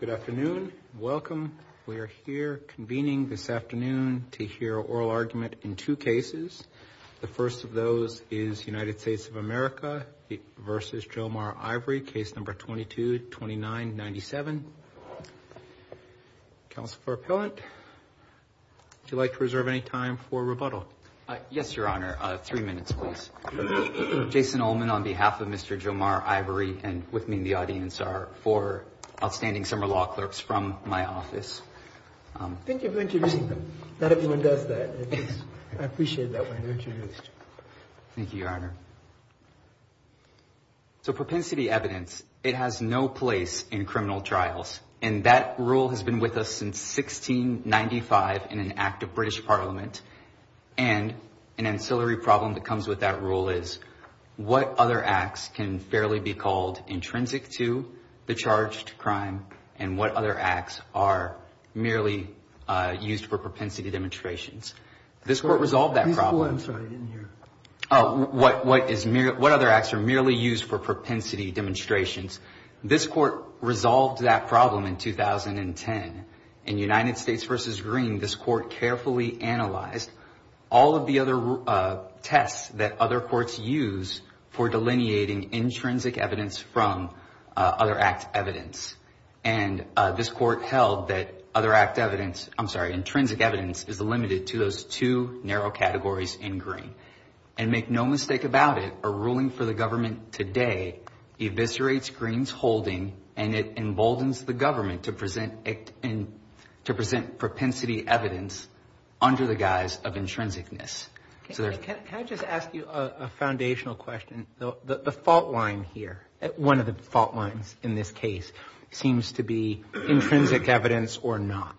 Good afternoon. Welcome. We are here convening this afternoon to hear an oral argument in two cases. The first of those is United States of America v. Jomar Ivory, case number 22-29-97. Counsel for Appellant, would you like to reserve any time for rebuttal? Yes, Your Honor. Three minutes, please. Jason Ullman on behalf of Mr. Jomar Ivory and with the audience are four outstanding summer law clerks from my office. Thank you for introducing them. Not everyone does that. I appreciate that. Thank you, Your Honor. So propensity evidence, it has no place in criminal trials and that rule has been with us since 1695 in an act of British Parliament. And an ancillary problem that comes with that rule is what other acts can fairly be called intrinsic to the charged crime and what other acts are merely used for propensity demonstrations. This court resolved that problem. Please go ahead. I'm sorry. I didn't hear. Oh, what other acts are merely used for propensity demonstrations? This court resolved that problem in 2010. In United States v. Green, this court carefully analyzed all of the other tests that other courts use for delineating intrinsic evidence from other act evidence. And this court held that other act evidence, I'm sorry, intrinsic evidence is limited to those two narrow categories in Green. And make no mistake about it, a ruling for the government today, eviscerates Green's holding and it emboldens the government to present propensity evidence under the guise of I'm going to ask you a foundational question. The fault line here, one of the fault lines in this case seems to be intrinsic evidence or not,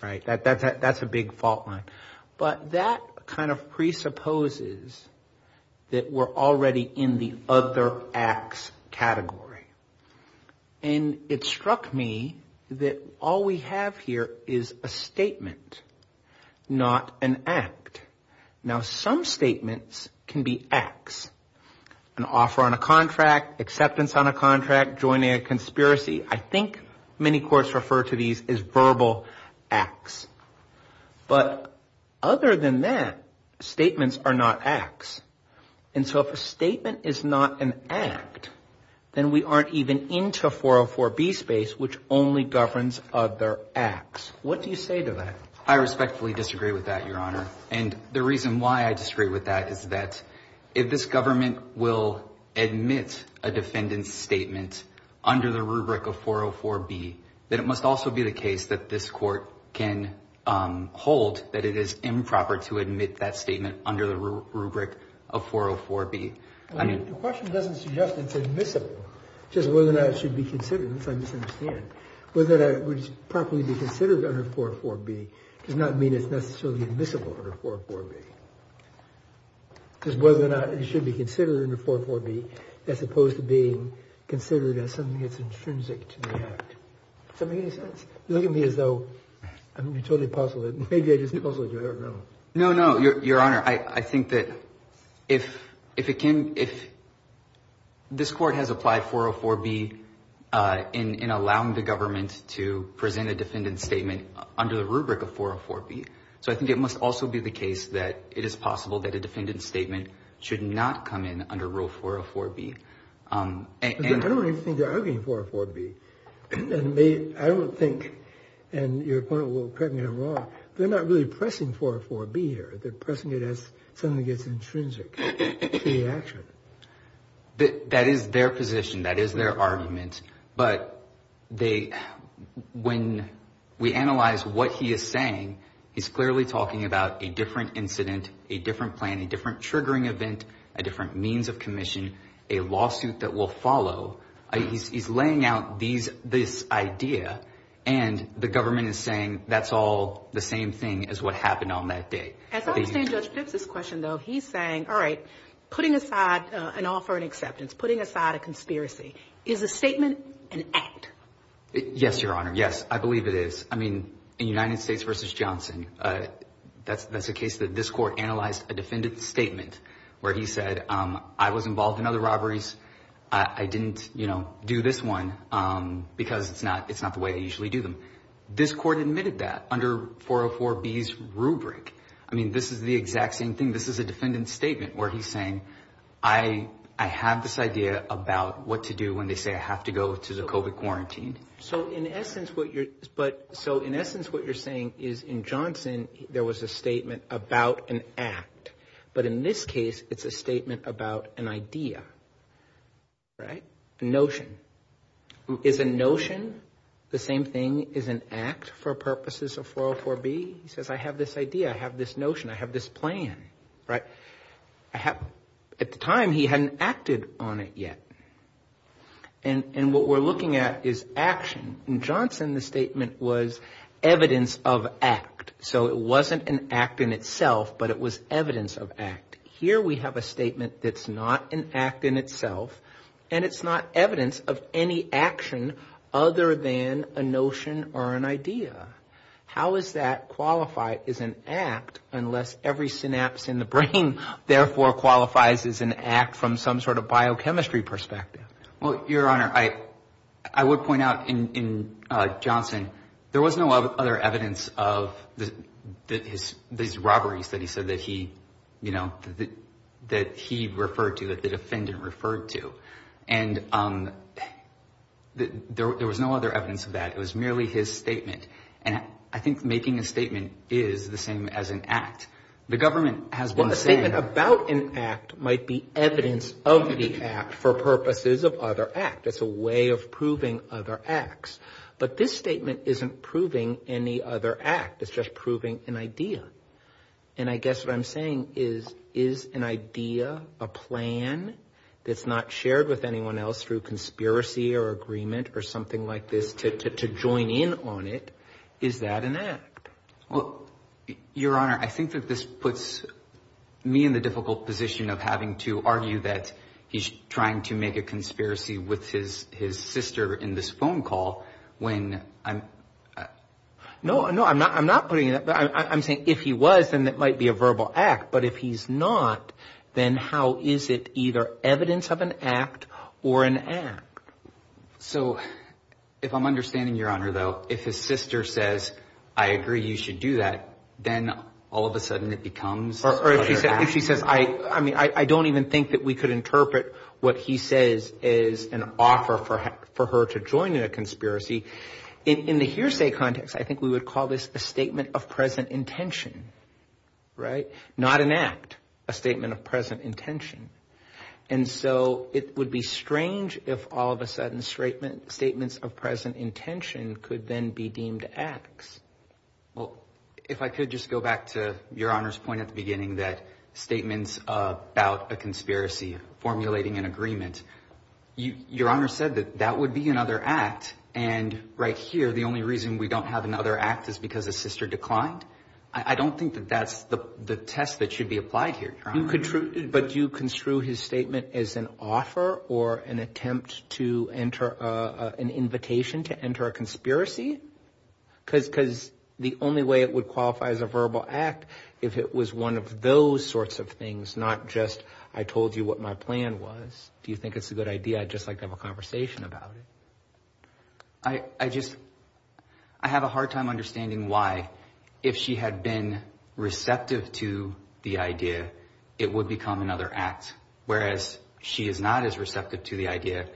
right? That's a big fault line. But that kind of presupposes that we're already in the other acts category. And it struck me that all we have here is a statement, not an act. Now, some statements can be acts. An offer on a contract, acceptance on a contract, joining a conspiracy. I think many courts refer to these as verbal acts. But other than that, statements are not acts. And so if a statement is not an act, then we aren't even into 404B space, which only governs other acts. What do you say to that? I respectfully disagree with that, Your Honor. And the reason why I disagree with that is that if this government will admit a defendant's statement under the rubric of 404B, then it must also be the case that this court can hold that it is improper to admit that statement under the rubric of 404B. The question doesn't suggest that it's admissible, just whether or not it should be considered, which I misunderstand. Whether that would properly be considered under 404B does not mean it's necessarily admissible under 404B. Because whether or not it should be considered under 404B, as opposed to being considered as something that's intrinsic to the act. Does that make any sense? You look at me as though I'm totally puzzled. Maybe I just puzzled you, I don't know. No, no, Your Honor. I think that if this court has applied 404B in allowing the government to present a defendant's statement under the rubric of 404B, so I think it must also be the case that it is possible that a defendant's statement should not come in under rule 404B. I don't even think they're arguing 404B. I don't think, and your point will correct me if I'm wrong, they're not really pressing 404B here. They're pressing it as something that's intrinsic to the action. That is their position. That is their argument. But when we analyze what he is saying, he's clearly talking about a different incident, a different plan, a different triggering event, a different means of commission, a lawsuit that will follow. He's laying out this idea, and the government is saying that's all the same thing as what happened on that day. As I understand Judge Phipps's question, though, he's saying, all right, putting aside an offer and acceptance, putting aside a conspiracy, is a statement an act? Yes, Your Honor. Yes, I believe it is. I mean, in United States v. Johnson, that's a case that this court analyzed a defendant's statement where he said, I was involved in other robberies. I didn't, you know, do this one because it's not the way they usually do them. This court admitted that under 404B's rubric. I mean, this is the exact same thing. This is a defendant's statement where he's saying, I have this idea about what to do when they say I have to go to the COVID quarantine. So, in essence, what you're saying is in Johnson, there was a statement about an act. But in this case, it's a statement about an idea, right? A notion. Is a notion the same thing as an idea for the purposes of 404B? He says, I have this idea. I have this notion. I have this plan, right? At the time, he hadn't acted on it yet. And what we're looking at is action. In Johnson, the statement was evidence of act. So, it wasn't an act in itself, but it was evidence of act. Here, we have a statement that's not an act in itself, and it's not evidence of any action other than a notion or an idea. How is that qualified as an act unless every synapse in the brain, therefore, qualifies as an act from some sort of biochemistry perspective? Well, Your Honor, I would point out in Johnson, there was no other evidence of these robberies that he said that he referred to, that the defendant referred to. And there was no other evidence of that. It was merely his statement. And I think making a statement is the same as an act. The government has been saying- Well, a statement about an act might be evidence of the act for purposes of other act. That's a way of proving other acts. But this statement isn't proving any other act. It's just proving an idea. And I guess what I'm saying is, is an idea, a plan that's not shared with anyone else through conspiracy or agreement or something like this to join in on it, is that an act? Well, Your Honor, I think that this puts me in the difficult position of having to argue that he's trying to make a conspiracy with his sister in this phone call when I'm- No, no, I'm not putting that. I'm saying if he was, then it might be a verbal act. But if he's not, then how is it either evidence of an act or an act? So if I'm understanding, Your Honor, though, if his sister says, I agree you should do that, then all of a sudden it becomes- If she says, I mean, I don't even think that we could interpret what he says is an offer for her to join in a conspiracy. In the hearsay context, I think we would call this a statement of present intention, right? Not an act, a statement of present intention. And so it would be strange if all of a sudden statements of present intention could then be deemed acts. Well, if I could just go back to Your Honor's point at the beginning that statements about a conspiracy formulating an agreement, Your Honor said that that would be another act. And right here, the only reason we don't have another act is because a sister declined. I don't think that that's the test that should be applied here, Your Honor. But do you construe his statement as an offer or an attempt to enter an invitation to enter a conspiracy? Because the only way it would qualify as a verbal act, if it was one of those sorts of things, not just I told you what my plan was. Do you think it's a good idea? I'd just like to have a conversation about it. I just, I have a hard time understanding why if she had been receptive to the idea, it would become another act. Whereas she is not as receptive to the idea,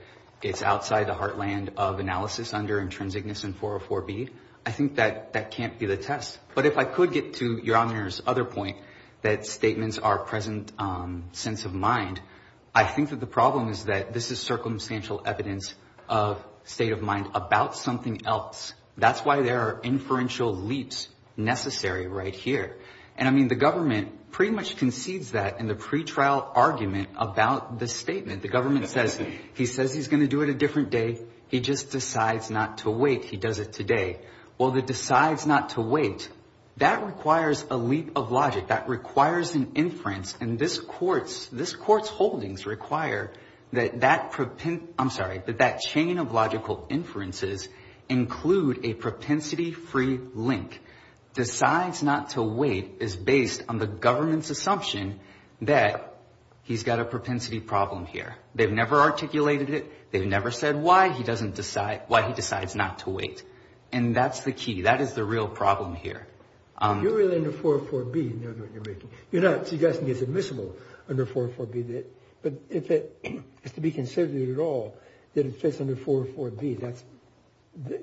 it's outside the heartland of analysis under intrinsicness and 404B. I think that can't be the test. But if I could get to Your Honor's other point that statements are present sense of mind, I think that the problem is that this is circumstantial evidence of state of mind about something else. That's why there are inferential leaps necessary right here. And I mean, the government pretty much concedes that in the pretrial argument about the statement. The government says, he says he's going to do it a different day. He just decides not to wait. He does it today. Well, the decides not to wait, that requires a leap of logic that requires an inference. And this court's holdings require that chain of logical inferences include a propensity free link. Decides not to wait is based on the government's assumption that he's got a propensity problem here. They've never articulated it. They've never said why he doesn't decide, why he decides not to wait. And that's the key. That is the real problem here. You're really in the 404B. You're not suggesting it's admissible under 404B. But if it is to be considered at all that it fits under 404B, that's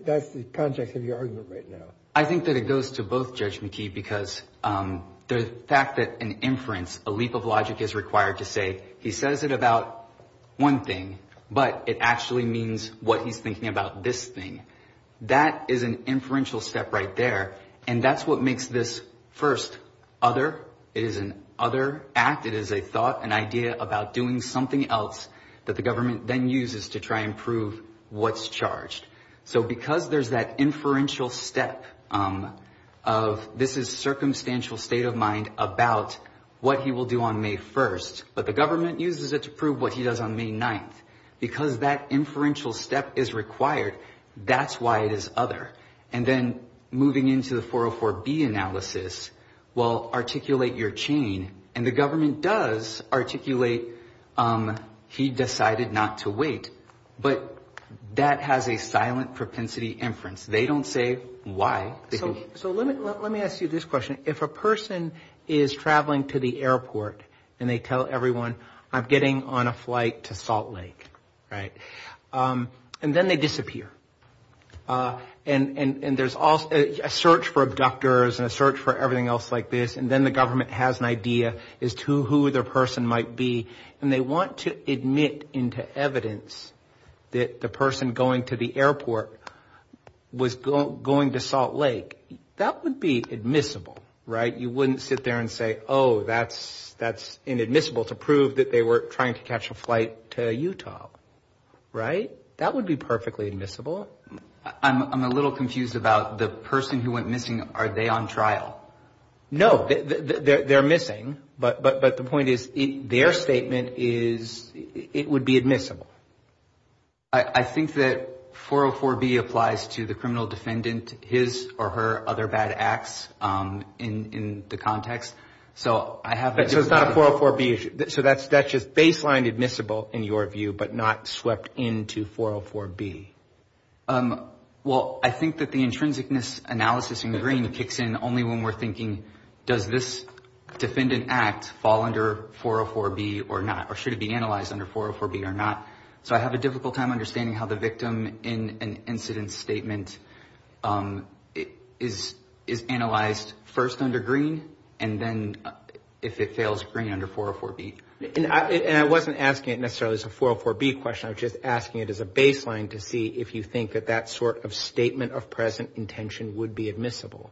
that's the context of your argument right now. I think that it goes to both, Judge McKee, because the fact that an inference, a leap of logic is required to say he says it about one thing, but it actually means what he's thinking about this thing. That is an inferential step right there. And that's what makes this first other. It is an other act. It is a thought, an idea about doing something else that the government then uses to try and prove what's charged. So because there's that inferential step of this is circumstantial state of mind about what he will do on May 1st, but the government uses it to prove what he does on May 9th because that inferential step is required. That's why it is other. And then moving into the 404B analysis will articulate your chain. And the government does articulate he decided not to wait. But that has a silent propensity inference. They don't say why. So let me let me ask you this question. If a person is traveling to the airport and they tell everyone, I'm getting on a flight to Salt Lake. Right. And then they disappear. And there's also a search for abductors and a search for everything else like this. And then the government has an idea as to who the person might be. And they want to admit into evidence that the person going to the airport was going to Salt Lake. That would be admissible. Right. You wouldn't sit there and say, oh, that's that's inadmissible to prove that they were trying to catch a flight to Utah. Right. That would be perfectly admissible. I'm a little confused about the person who went missing. Are they on trial? No, they're missing. But but but the point is, their statement is it would be admissible. I think that 404B applies to the So I have it. So it's not a 404B. So that's that's just baseline admissible in your view, but not swept into 404B. Well, I think that the intrinsic analysis in green kicks in only when we're thinking, does this defendant act fall under 404B or not? Or should it be analyzed under 404B or not? So I have a difficult time understanding how the victim in an if it fails green under 404B. And I wasn't asking it necessarily as a 404B question. I was just asking it as a baseline to see if you think that that sort of statement of present intention would be admissible.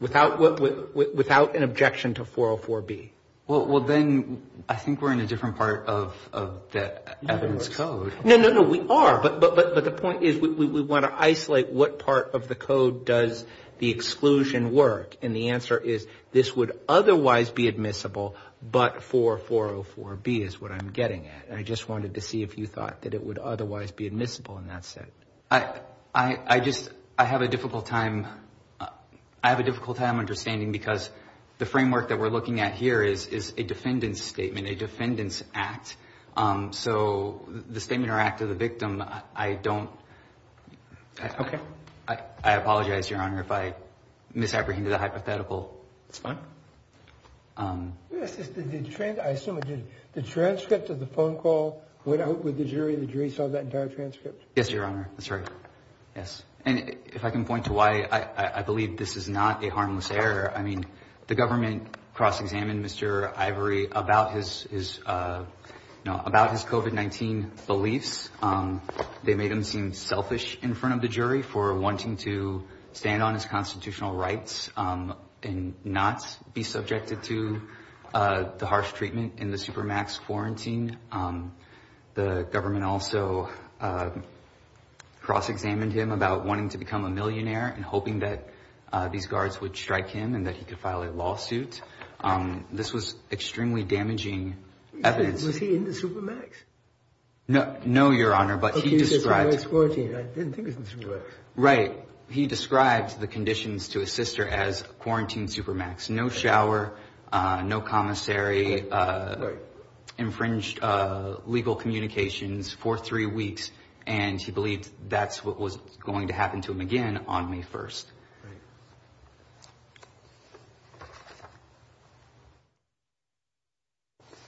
Without without an objection to 404B. Well, then I think we're in a different part of the evidence code. No, no, no. We are. But but but the point is, we want to isolate what part of the code does the exclusion work? And the answer is this would otherwise be admissible. But for 404B is what I'm getting at. I just wanted to see if you thought that it would otherwise be admissible in that sense. I, I just I have a difficult time. I have a difficult time understanding because the framework that we're looking at here is is a defendant's statement, a defendant's act. So the statement or act of the victim, I don't. OK, I apologize, Your Honor, if I misapprehended the hypothetical. It's fine. This is the trend. I assume the transcript of the phone call went out with the jury. The jury saw that entire transcript. Yes, Your Honor. That's right. Yes. And if I can point to why I believe this is not a harmless error. I mean, the government cross-examined Mr. Ivory about his his about his COVID-19 beliefs. They made him seem selfish in front of the jury for wanting to stand on his constitutional rights and not be subjected to the harsh treatment in the supermax quarantine. The government also cross-examined him about wanting to become a millionaire and hoping that these guards would strike him and that he could file a lawsuit. This was extremely damaging evidence. Was he in the supermax? No, no, Your Honor, but he described the conditions to his sister as quarantine supermax, no shower, no commissary, infringed legal communications for three weeks. And he believed that's what was going to happen to him again on May 1st. Right.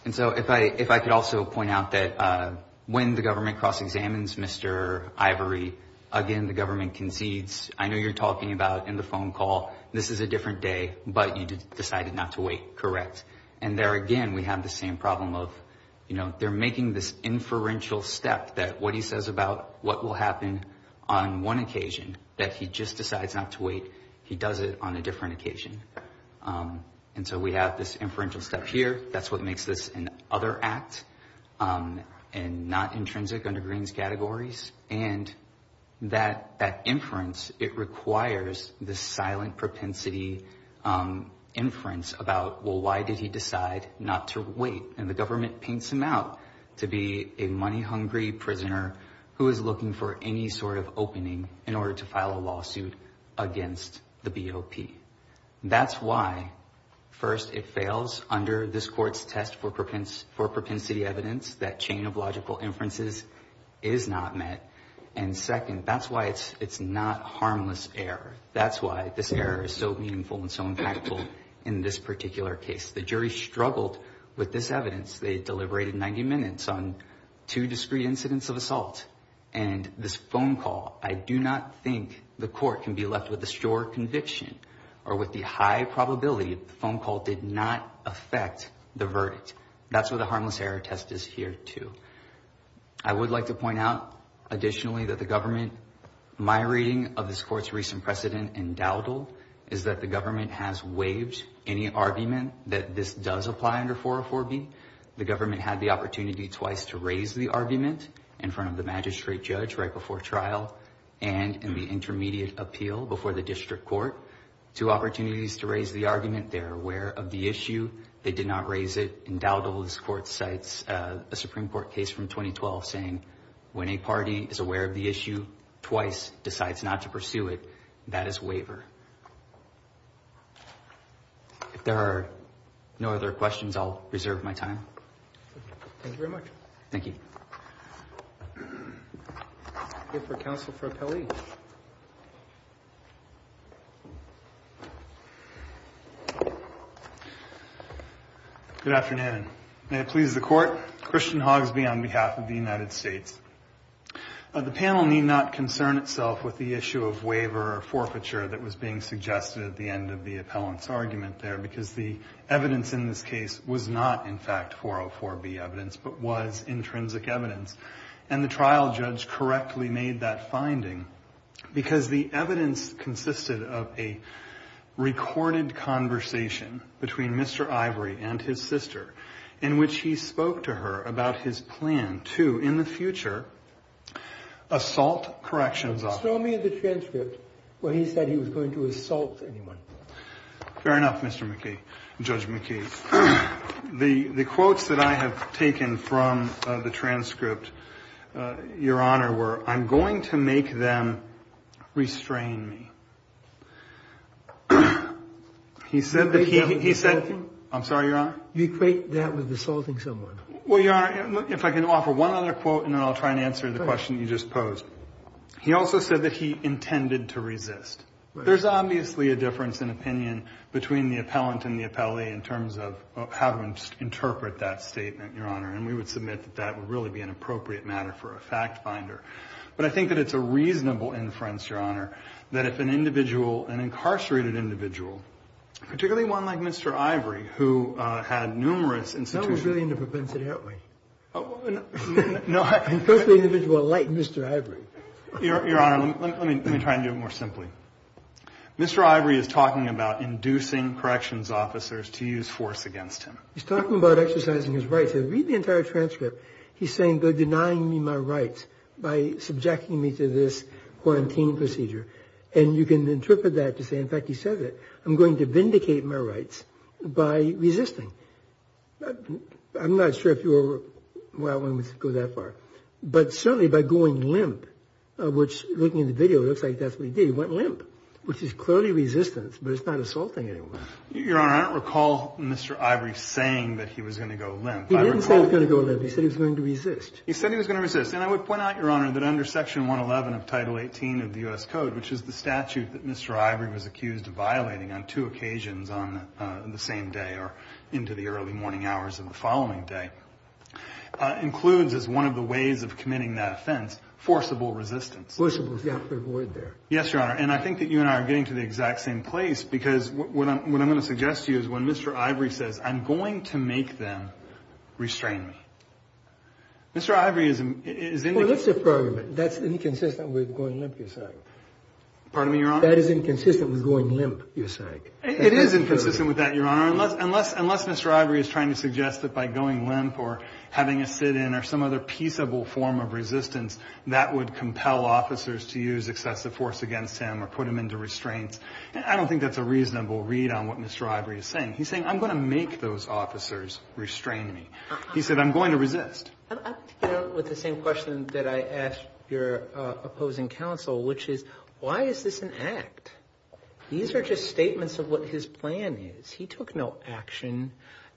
And so if I if I could also point out that when the government cross-examines Mr. Ivory again, the government concedes, I know you're talking about in the phone call, this is a different day, but you decided not to wait. Correct. And there again, we have the same problem of, you know, they're making this inferential step that what he says about what will happen on one occasion, that he just decides not to wait. He does it on a different occasion. And so we have this inferential step here. That's what makes this an other act and not intrinsic under Greene's categories. And that that inference, it requires the silent propensity inference about, well, why did he decide not to wait? And the government paints him out to be a money hungry prisoner who is looking for any sort of opening in order to file a lawsuit against the BOP. That's why, first, it fails under this court's test for propensity evidence. That chain of logical inferences is not met. And second, that's why it's it's not harmless error. That's why this error is so meaningful and so impactful in this particular case. The jury struggled with this evidence. They deliberated 90 minutes on two discrete incidents of assault. And this phone call, I do not think the court can be left with a sure conviction or with the high probability of the phone call did not affect the verdict. That's what the harmless error test is here, too. I would like to point out additionally that the government, my reading of this court's recent precedent in Dowdle, is that the government has waived any argument that this does apply under 404B. The government had the opportunity twice to raise the argument in front of the magistrate judge right before trial and in the intermediate appeal before the district court. Two opportunities to raise the argument. They're aware of the issue. They did not raise it in Dowdle. This court cites a Supreme Court case from 2012 saying when a party is aware of the issue twice decides not to pursue it. That is waiver. If there are no other questions, I'll reserve my time. Thank you very much. Thank you. Here for counsel for appellee. Good afternoon. May it please the court. Christian Hogsby on behalf of the United States. The panel need not concern itself with the issue of waiver or forfeiture that was being suggested at the end of the appellant's argument there because the evidence in this case was not in fact 404B evidence but was intrinsic evidence. And the trial judge correctly made that finding because the evidence consisted of a recorded conversation between Mr. Ivory and his sister in which he spoke to her about his plan to in the future assault corrections. Show me the transcript where he said he was going to assault anyone. Fair enough. Mr. McKee, Judge McKee, the quotes that I have taken from the transcript, Your Honor, were I'm going to make them restrain me. He said that he said, I'm sorry, Your Honor, you equate that with assaulting someone. Well, Your Honor, if I can offer one other quote and then I'll try and answer the question you just posed. He also said that he intended to resist. There's obviously a difference in opinion between the appellant and the appellee in terms of how to interpret that statement, Your Honor. And we would submit that that would really be an appropriate matter for a fact finder. But I think that it's a reasonable inference, Your Honor, that if an individual, an incarcerated individual, particularly one like Mr. Ivory, who had numerous institutions. No, we're really in the propensity, aren't we? No, I'm personally an individual like Mr. Ivory. Your Honor, let me try and do it more simply. Mr. Ivory is talking about inducing corrections officers to use force against him. He's talking about exercising his rights. I read the entire transcript. He's saying they're denying me my rights by subjecting me to this quarantine procedure. And you can interpret that to say, in fact, he said that I'm going to vindicate my rights. By resisting. I'm not sure if you were willing to go that far, but certainly by going limp, which looking at the video, it looks like that's what he did. He went limp, which is clearly resistance, but it's not assaulting anyone. Your Honor, I don't recall Mr. Ivory saying that he was going to go limp. He didn't say he was going to go limp. He said he was going to resist. He said he was going to resist. And I would point out, Your Honor, that under Section 111 of Title 18 of the U.S. into the early morning hours of the following day, includes as one of the ways of committing that offense, forcible resistance. Yes, Your Honor. And I think that you and I are getting to the exact same place, because what I'm going to suggest to you is when Mr. Ivory says, I'm going to make them restrain me. Mr. Ivory is in the program. That's inconsistent with going limp. Pardon me, Your Honor. That is inconsistent with going limp. You're saying it is inconsistent with that. Your Honor, unless Mr. Ivory is trying to suggest that by going limp or having a sit-in or some other peaceable form of resistance that would compel officers to use excessive force against him or put him into restraints, I don't think that's a reasonable read on what Mr. Ivory is saying. He's saying, I'm going to make those officers restrain me. He said, I'm going to resist. With the same question that I asked your opposing counsel, which is, why is this an act? These are just statements of what his plan is. He took no action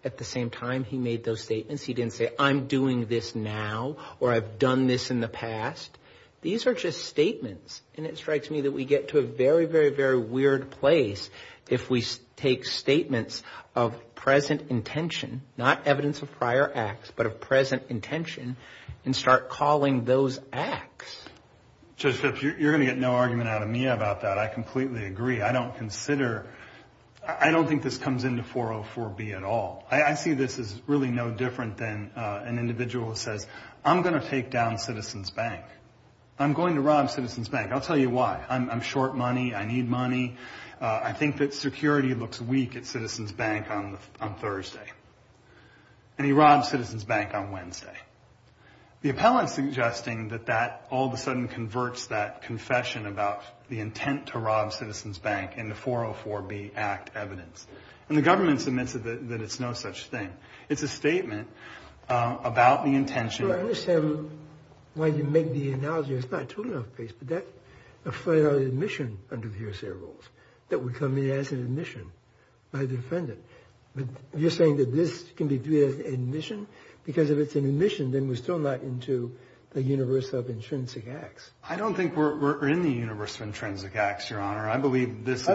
at the same time he made those statements. He didn't say, I'm doing this now, or I've done this in the past. These are just statements. And it strikes me that we get to a very, very, very weird place if we take statements of present intention, not evidence of prior acts, but of present intention and start calling those acts. Judge Phipps, you're going to get no argument out of me about that. I completely agree. I don't consider, I don't think this comes into 404B at all. I see this as really no different than an individual who says, I'm going to take down Citizens Bank. I'm going to rob Citizens Bank. I'll tell you why. I'm short money. I need money. I think that security looks weak at Citizens Bank on Thursday. And he robs Citizens Bank on Wednesday. The appellant's suggesting that that all of a sudden converts that confession about the intent to rob Citizens Bank into 404B Act evidence. And the government submits that it's no such thing. It's a statement about the intention. I understand why you make the analogy. It's not true enough case, but that's a federal admission under the USA rules that would come in as an admission by the defendant. But you're saying that this can be viewed as admission because if it's an admission, then we're still not into the universe of intrinsic acts. I don't think we're in the universe of intrinsic acts, Your Honor. I believe this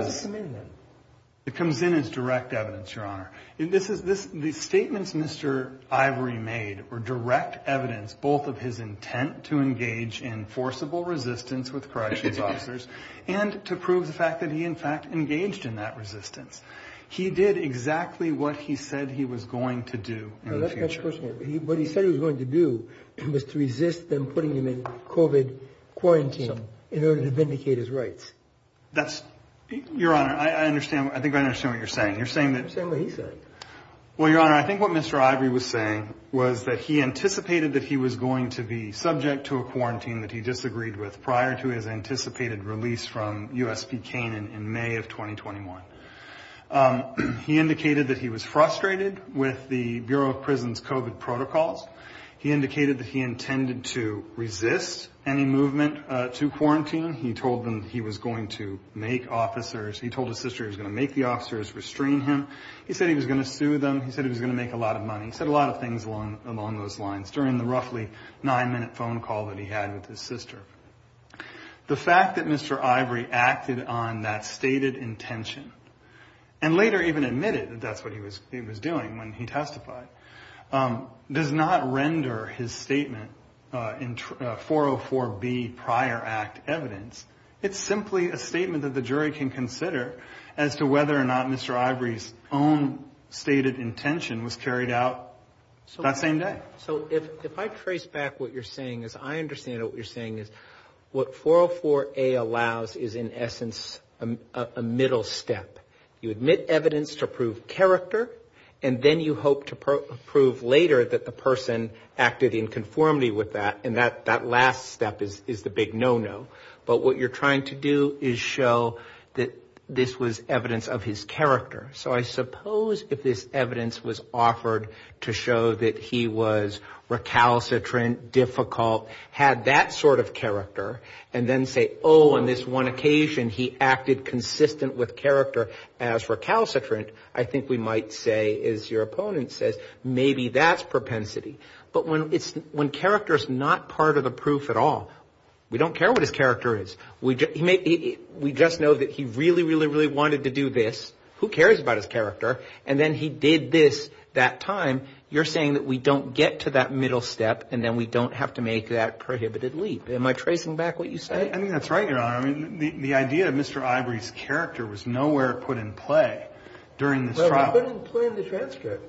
comes in as direct evidence. Your Honor, this is the statements Mr. Ivory made were direct evidence, both of his intent to engage in forcible resistance with corrections officers and to prove the fact that he in fact engaged in that resistance. He did exactly what he said he was going to do in the future. What he said he was going to do was to resist them putting him in COVID quarantine in order to vindicate his rights. That's your honor. I understand. I think I understand what you're saying. You're saying that. Well, Your Honor, I think what Mr. Ivory was saying was that he anticipated that he was going to be subject to a quarantine that he disagreed with prior to his anticipated release from USP Canaan in May of 2021. He indicated that he was frustrated with the Bureau of Prisons COVID protocols. He indicated that he intended to resist any movement to quarantine. He told them he was going to make officers. He told his sister he was going to make the officers restrain him. He said he was going to sue them. He said he was going to make a lot of money, said a lot of things along those lines during the roughly nine minute phone call that he had with his sister. The fact that Mr. Ivory acted on that stated intention and later even admitted that that's what he was doing when he testified does not render his statement in 404B prior act evidence. It's simply a statement that the jury can consider as to whether or not Mr. Ivory's own stated intention was carried out that same day. So if I trace back what you're saying is I understand what you're saying is what 404A allows is in essence a middle step. You admit evidence to prove character and then you hope to prove later that the person acted in conformity with that. And that that last step is the big no no. But what you're trying to do is show that this was evidence of his character. So I suppose if this evidence was offered to show that he was recalcitrant, difficult, had that sort of character and then say, oh, on this one occasion, he acted consistent with character as recalcitrant, I think we might say, as your opponent says, maybe that's propensity. But when it's when character is not part of the proof at all, we don't care what his character is. We just know that he really, really, really wanted to do this. Who cares about his character? And then he did this that time. You're saying that we don't get to that middle step and then we don't have to make that prohibited leap. Am I tracing back what you said? I mean, that's right, Your Honor. I mean, the idea of Mr. Ivory's character was nowhere put in play during this trial. It wasn't put in the transcript.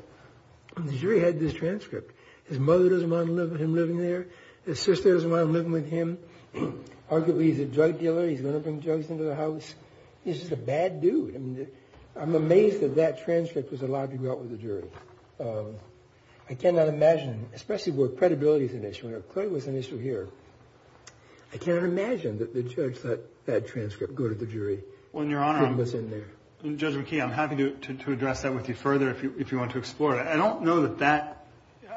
The jury had this transcript. His mother doesn't want him living there. His sister doesn't want him living with him. Arguably, he's a drug dealer. He's going to bring drugs into the house. He's just a bad dude. I'm amazed that that transcript was allowed to go out with the jury. I cannot imagine, especially where credibility is an issue, and it clearly was an issue here. I cannot imagine that the judge let that transcript go to the jury. Well, Your Honor, Judge McKee, I'm happy to address that with you further if you want to explore it. I don't know that that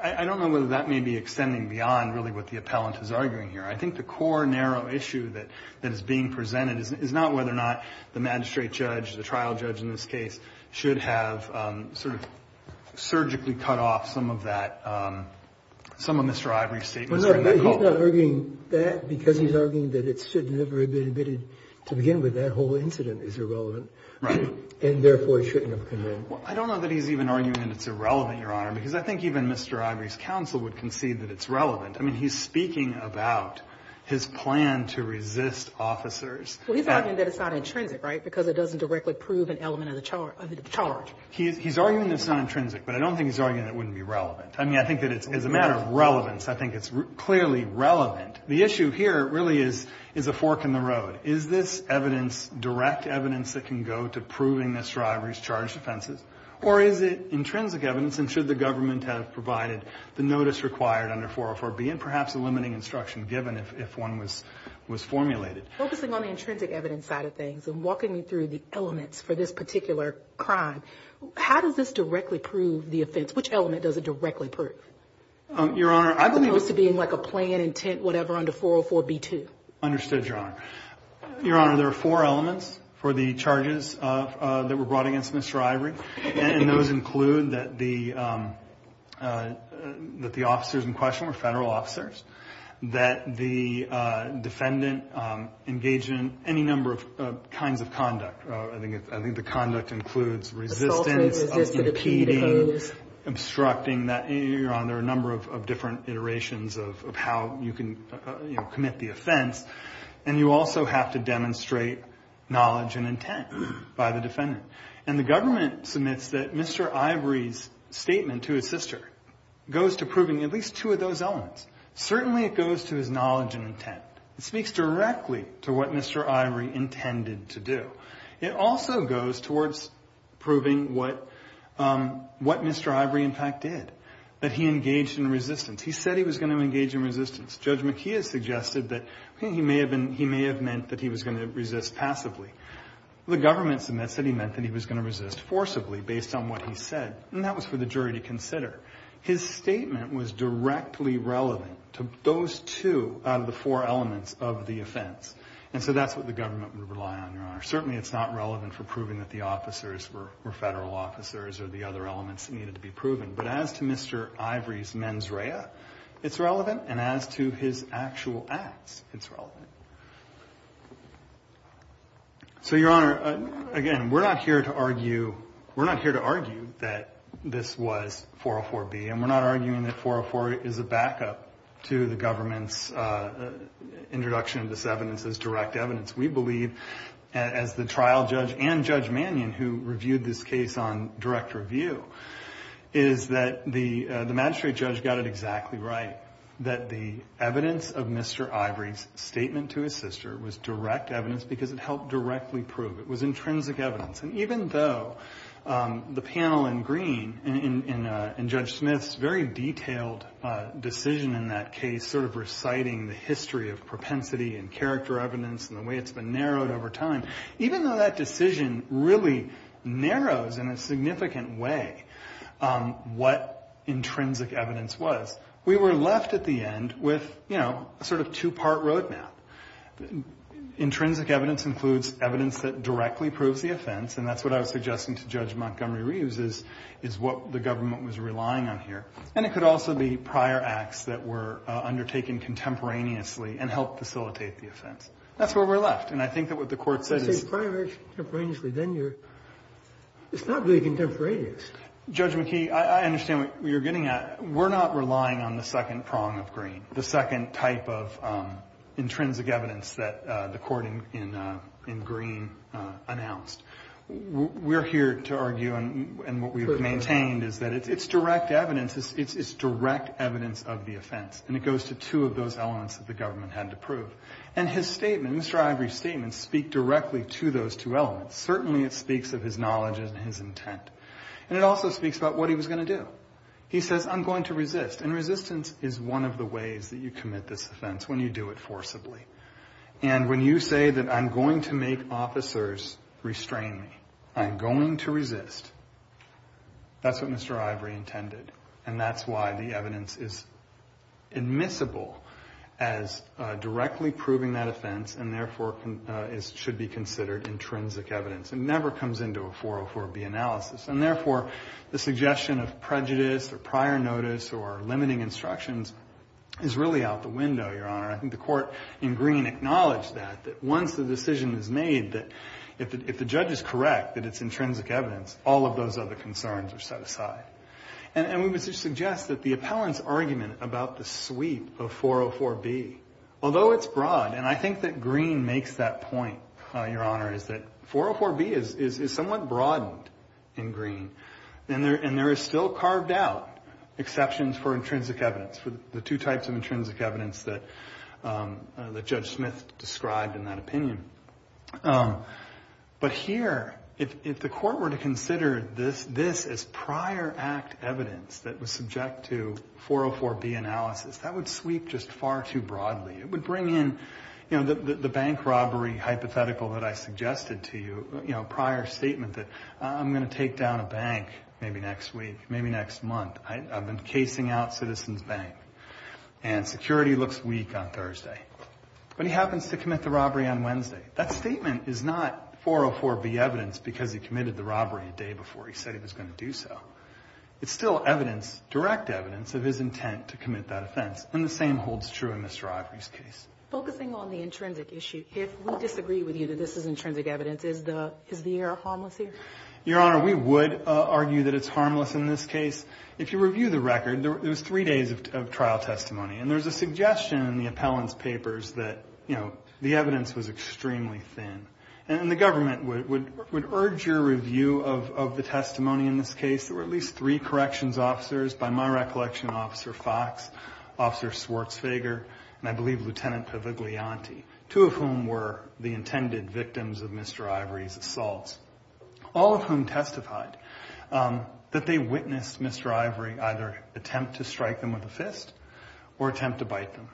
I don't know whether that may be extending beyond really what the appellant is arguing here. I think the core, narrow issue that is being presented is not whether or not the magistrate judge, the trial judge in this case, should have sort of surgically cut off some of that, some of Mr. Ivory's statements. Well, no, he's not arguing that because he's arguing that it should never have been admitted to begin with. That whole incident is irrelevant and therefore shouldn't have come in. Well, I don't know that he's even arguing that it's irrelevant, Your Honor, because I think even Mr. Ivory's counsel would concede that it's relevant. I mean, he's speaking about his plan to resist officers. Well, he's arguing that it's not intrinsic, right, because it doesn't directly prove an element of the charge. He's arguing that it's not intrinsic, but I don't think he's arguing that it wouldn't be relevant. I mean, I think that as a matter of relevance, I think it's clearly relevant. The issue here really is a fork in the road. Is this evidence, direct evidence that can go to proving this driver's charged offenses, or is it intrinsic evidence? And should the government have provided the notice required under 404B and perhaps a limiting instruction given if one was formulated? Focusing on the intrinsic evidence side of things and walking me through the elements for this particular crime, how does this directly prove the offense? Which element does it directly prove? Your Honor, I believe it's to being like a plan, intent, whatever, under 404B2. Understood, Your Honor. Your Honor, there are four elements for the charges that were brought against Mr. Ivory. And those include that the officers in question were federal officers, that the defendant engaged in any number of kinds of conduct. I think the conduct includes resistance, impeding, obstructing. Your Honor, there are a number of different iterations of how you can commit the offense. And you also have to demonstrate knowledge and intent by the defendant. And the government submits that Mr. Ivory's statement to his sister goes to proving at least two of those elements. Certainly it goes to his knowledge and intent. It speaks directly to what Mr. Ivory intended to do. It also goes towards proving what Mr. Ivory, in fact, did, that he engaged in resistance. He said he was going to engage in resistance. Judge McKeon suggested that he may have meant that he was going to resist passively. The government submits that he meant that he was going to resist forcibly, based on what he said. And that was for the jury to consider. His statement was directly relevant to those two out of the four elements of the offense. And so that's what the government would rely on, Your Honor. Certainly it's not relevant for proving that the officers were federal officers or the other elements needed to be proven. But as to Mr. Ivory's mens rea, it's relevant. And as to his actual acts, it's relevant. So, Your Honor, again, we're not here to argue that this was 404B. And we're not arguing that 404 is a backup to the government's introduction of this evidence as direct evidence. We believe, as the trial judge and Judge Mannion, who reviewed this case on direct review, is that the magistrate judge got it exactly right. That the evidence of Mr. Ivory's statement to his sister was direct evidence because it helped directly prove it was intrinsic evidence. And even though the panel in green and Judge Smith's very detailed decision in that case, sort of reciting the history of propensity and character evidence and the way it's been narrowed over time, even though that decision really narrows in a significant way what intrinsic evidence was, we were left at the end with, you know, a sort of two-part road map. Intrinsic evidence includes evidence that directly proves the offense. And that's what I was suggesting to Judge Montgomery-Reeves, is what the government was relying on here. And it could also be prior acts that were undertaken contemporaneously and helped facilitate the offense. That's where we're left. And I think that what the Court said is... If it's prior acts contemporaneously, then you're... It's not really contemporaneous. Judge McKee, I understand what you're getting at. We're not relying on the second prong of green, the second type of intrinsic evidence that the court in green announced. We're here to argue, and what we've maintained is that it's direct evidence. It's direct evidence of the offense. And it goes to two of those elements that the government had to prove. And his statement, Mr. Ivory's statement, speak directly to those two elements. Certainly, it speaks of his knowledge and his intent. And it also speaks about what he was going to do. He says, I'm going to resist. And resistance is one of the ways that you commit this offense, when you do it forcibly. And when you say that I'm going to make officers restrain me, I'm going to resist, that's what Mr. Ivory intended. And that's why the evidence is admissible as directly proving that offense, and therefore should be considered intrinsic evidence. It never comes into a 404B analysis. And therefore, the suggestion of prejudice or prior notice or limiting instructions is really out the window, Your Honor. I think the court in green acknowledged that, that once the decision is made, that if the judge is correct that it's intrinsic evidence, all of those other concerns are set aside. And we would suggest that the appellant's argument about the sweep of 404B, although it's broad, and I think that green makes that point, Your Honor, is that 404B is somewhat broadened in green. And there is still carved out exceptions for intrinsic evidence, for the two types of intrinsic evidence that Judge Smith described in that opinion. But here, if the court were to consider this as prior act evidence that was subject to 404B analysis, that would sweep just far too broadly. It would bring in, you know, the bank robbery hypothetical that I suggested to you, you know, prior statement that I'm going to take down a bank maybe next week, maybe next month. I've been casing out Citizens Bank, and security looks weak on Thursday. But he happens to commit the robbery on Wednesday. That statement is not 404B evidence because he committed the robbery a day before he said he was going to do so. It's still evidence, direct evidence of his intent to commit that offense. And the same holds true in Mr. Ivory's case. Focusing on the intrinsic issue, if we disagree with you that this is intrinsic evidence, is the error harmless here? Your Honor, we would argue that it's harmless in this case. If you review the record, there was three days of trial testimony, and there's a suggestion in the appellant's papers that, you know, the evidence was extremely thin. And the government would urge your review of the testimony in this case. There were at least three corrections officers, by my recollection, Officer Fox, Officer Schwartzfeger, and I believe Lieutenant Paviglianti, two of whom were the intended victims of Mr. Ivory's assaults, all of whom testified that they witnessed Mr. Ivory either attempt to strike them with a fist or attempt to bite them.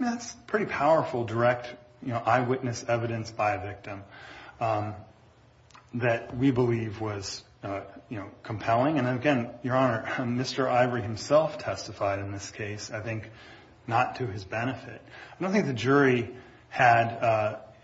That's pretty powerful, direct, you know, eyewitness evidence by a victim that we believe was, you know, compelling. And again, Your Honor, Mr. Ivory himself testified in this case, I think, not to his benefit. I don't think the jury had,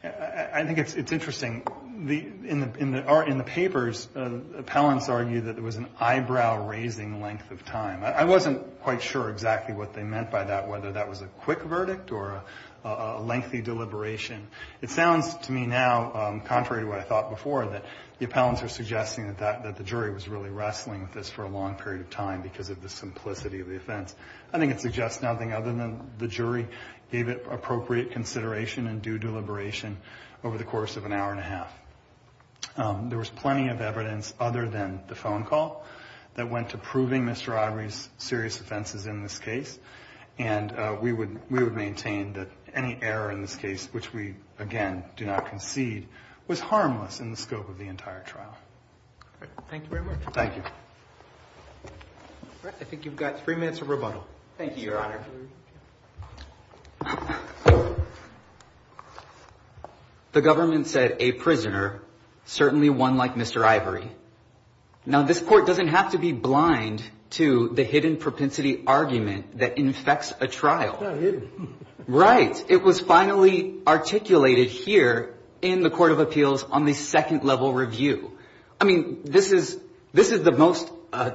I think it's interesting, in the papers, appellants argue that there was an eyebrow-raising length of time. I wasn't quite sure exactly what they meant by that, whether that was a quick verdict or a lengthy deliberation. It sounds to me now, contrary to what I thought before, that the appellants are suggesting that the jury was really wrestling with this for a long period of time because of the simplicity of the offense. I think it suggests nothing other than the jury gave it appropriate consideration and due deliberation over the course of an hour and a half. There was plenty of evidence other than the phone call that went to proving Mr. Ivory's serious offenses in this case. And we would maintain that any error in this case, which we, again, do not concede, was harmless in the scope of the entire trial. Thank you very much. Thank you. I think you've got three minutes of rebuttal. Thank you, Your Honor. The government said a prisoner, certainly one like Mr. Ivory. Now, this court doesn't have to be blind to the hidden propensity argument that infects a trial. Right. It was finally articulated here in the Court of Appeals on the second level review. I mean, this is this is the most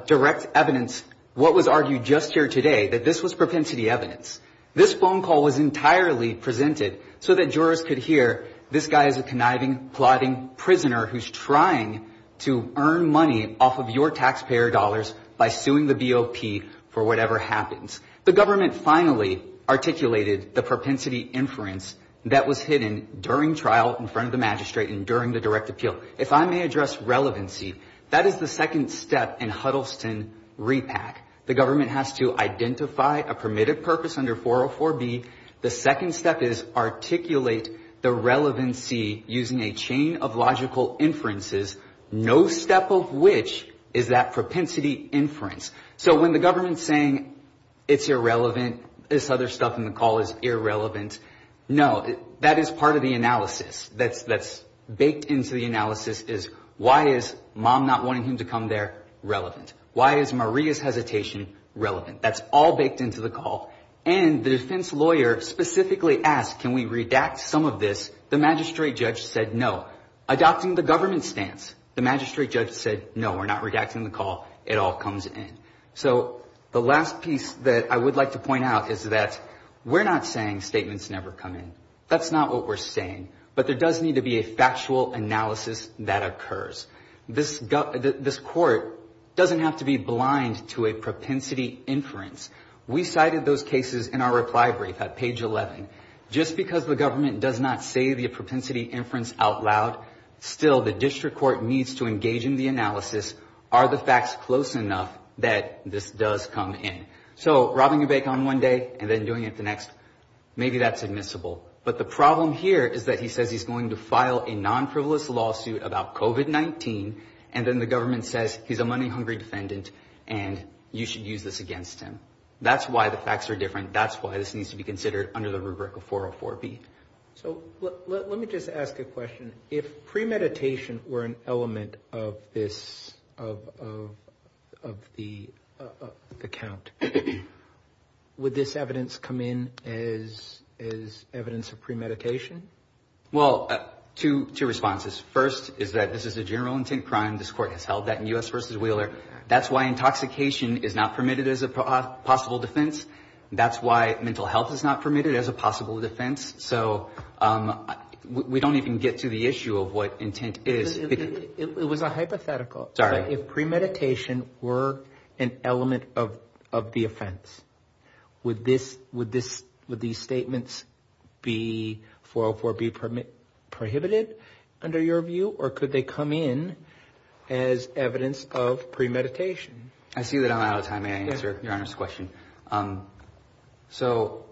direct evidence what was argued just here today, that this was propensity evidence. This phone call was entirely presented so that jurors could hear this guy is a conniving, plotting prisoner who's trying to earn money off of your taxpayer dollars by suing the BOP for whatever happens. The government finally articulated the propensity inference that was hidden during trial in front of the magistrate and during the direct appeal. If I may address relevancy, that is the second step in Huddleston repack. The government has to identify a permitted purpose under 404 B. The second step is articulate the relevancy using a chain of logical inferences, no step of which is that propensity inference. So when the government's saying it's irrelevant, this other stuff in the call is irrelevant. No, that is part of the analysis that's that's baked into the analysis is why is mom not wanting him to come there relevant? Why is Maria's hesitation relevant? That's all baked into the call. And the defense lawyer specifically asked, can we redact some of this? The magistrate judge said no. Adopting the government stance, the magistrate judge said, no, we're not redacting the call. It all comes in. So the last piece that I would like to point out is that we're not saying statements never come in. That's not what we're saying. But there does need to be a factual analysis that occurs. This this court doesn't have to be blind to a propensity inference. We cited those cases in our reply brief at page 11. Just because the government does not say the propensity inference out loud, still, the district court needs to engage in the analysis. Are the facts close enough that this does come in? So robbing a bank on one day and then doing it the next. Maybe that's admissible. But the problem here is that he says he's going to file a non-frivolous lawsuit about COVID-19. And then the government says he's a money hungry defendant and you should use this against him. That's why the facts are different. That's why this needs to be considered under the rubric of 404B. So let me just ask a question. If premeditation were an element of this, of the account, would this evidence come in as evidence of premeditation? Well, two responses. First is that this is a general intent crime. This court has held that in U.S. versus Wheeler. That's why intoxication is not permitted as a possible defense. That's why mental health is not permitted as a possible defense. So we don't even get to the issue of what intent is. It was a hypothetical. Sorry. If premeditation were an element of the offense, would these statements be 404B prohibited under your view? Or could they come in as evidence of premeditation? I see that I'm out of time. May I answer Your Honor's question? So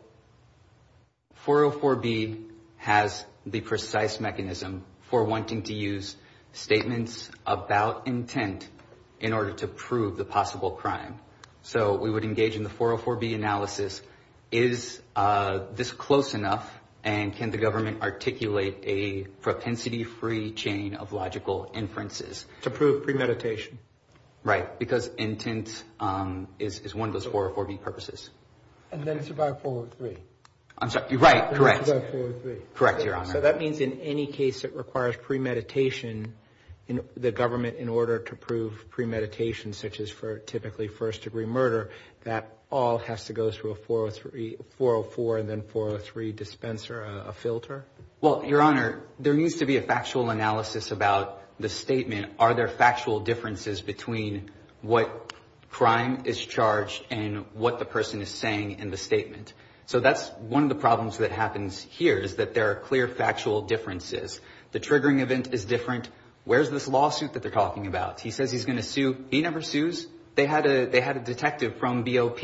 404B has the precise mechanism for wanting to use statements about intent in order to prove the possible crime. So we would engage in the 404B analysis. Is this close enough? And can the government articulate a propensity-free chain of logical inferences to prove premeditation? Right. Because intent is one of those 404B purposes. And then it's about 403. I'm sorry. Right. Correct. Correct, Your Honor. So that means in any case that requires premeditation, the government, in order to prove premeditation, such as for typically first degree murder, that all has to go through a 404 and then 403 dispenser, a filter? Well, Your Honor, there needs to be a factual analysis about the statement. Are there factual differences between what crime is charged and what the person is saying in the statement? So that's one of the problems that happens here is that there are clear factual differences. The triggering event is different. Where's this lawsuit that they're talking about? He says he's going to sue. He never sues. They had a detective from BOP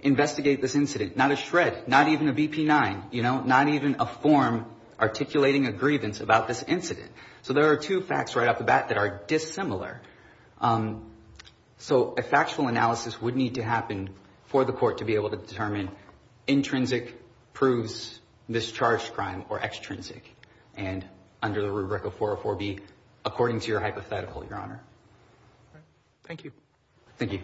investigate this incident. Not a shred. Not even a BP-9. You know, not even a form articulating a grievance about this incident. So there are two facts right off the bat that are dissimilar. So a factual analysis would need to happen for the court to be able to determine intrinsic proves discharged crime or extrinsic. And under the rubric of 404B, according to your hypothetical, Your Honor. Thank you. Thank you. Thank you.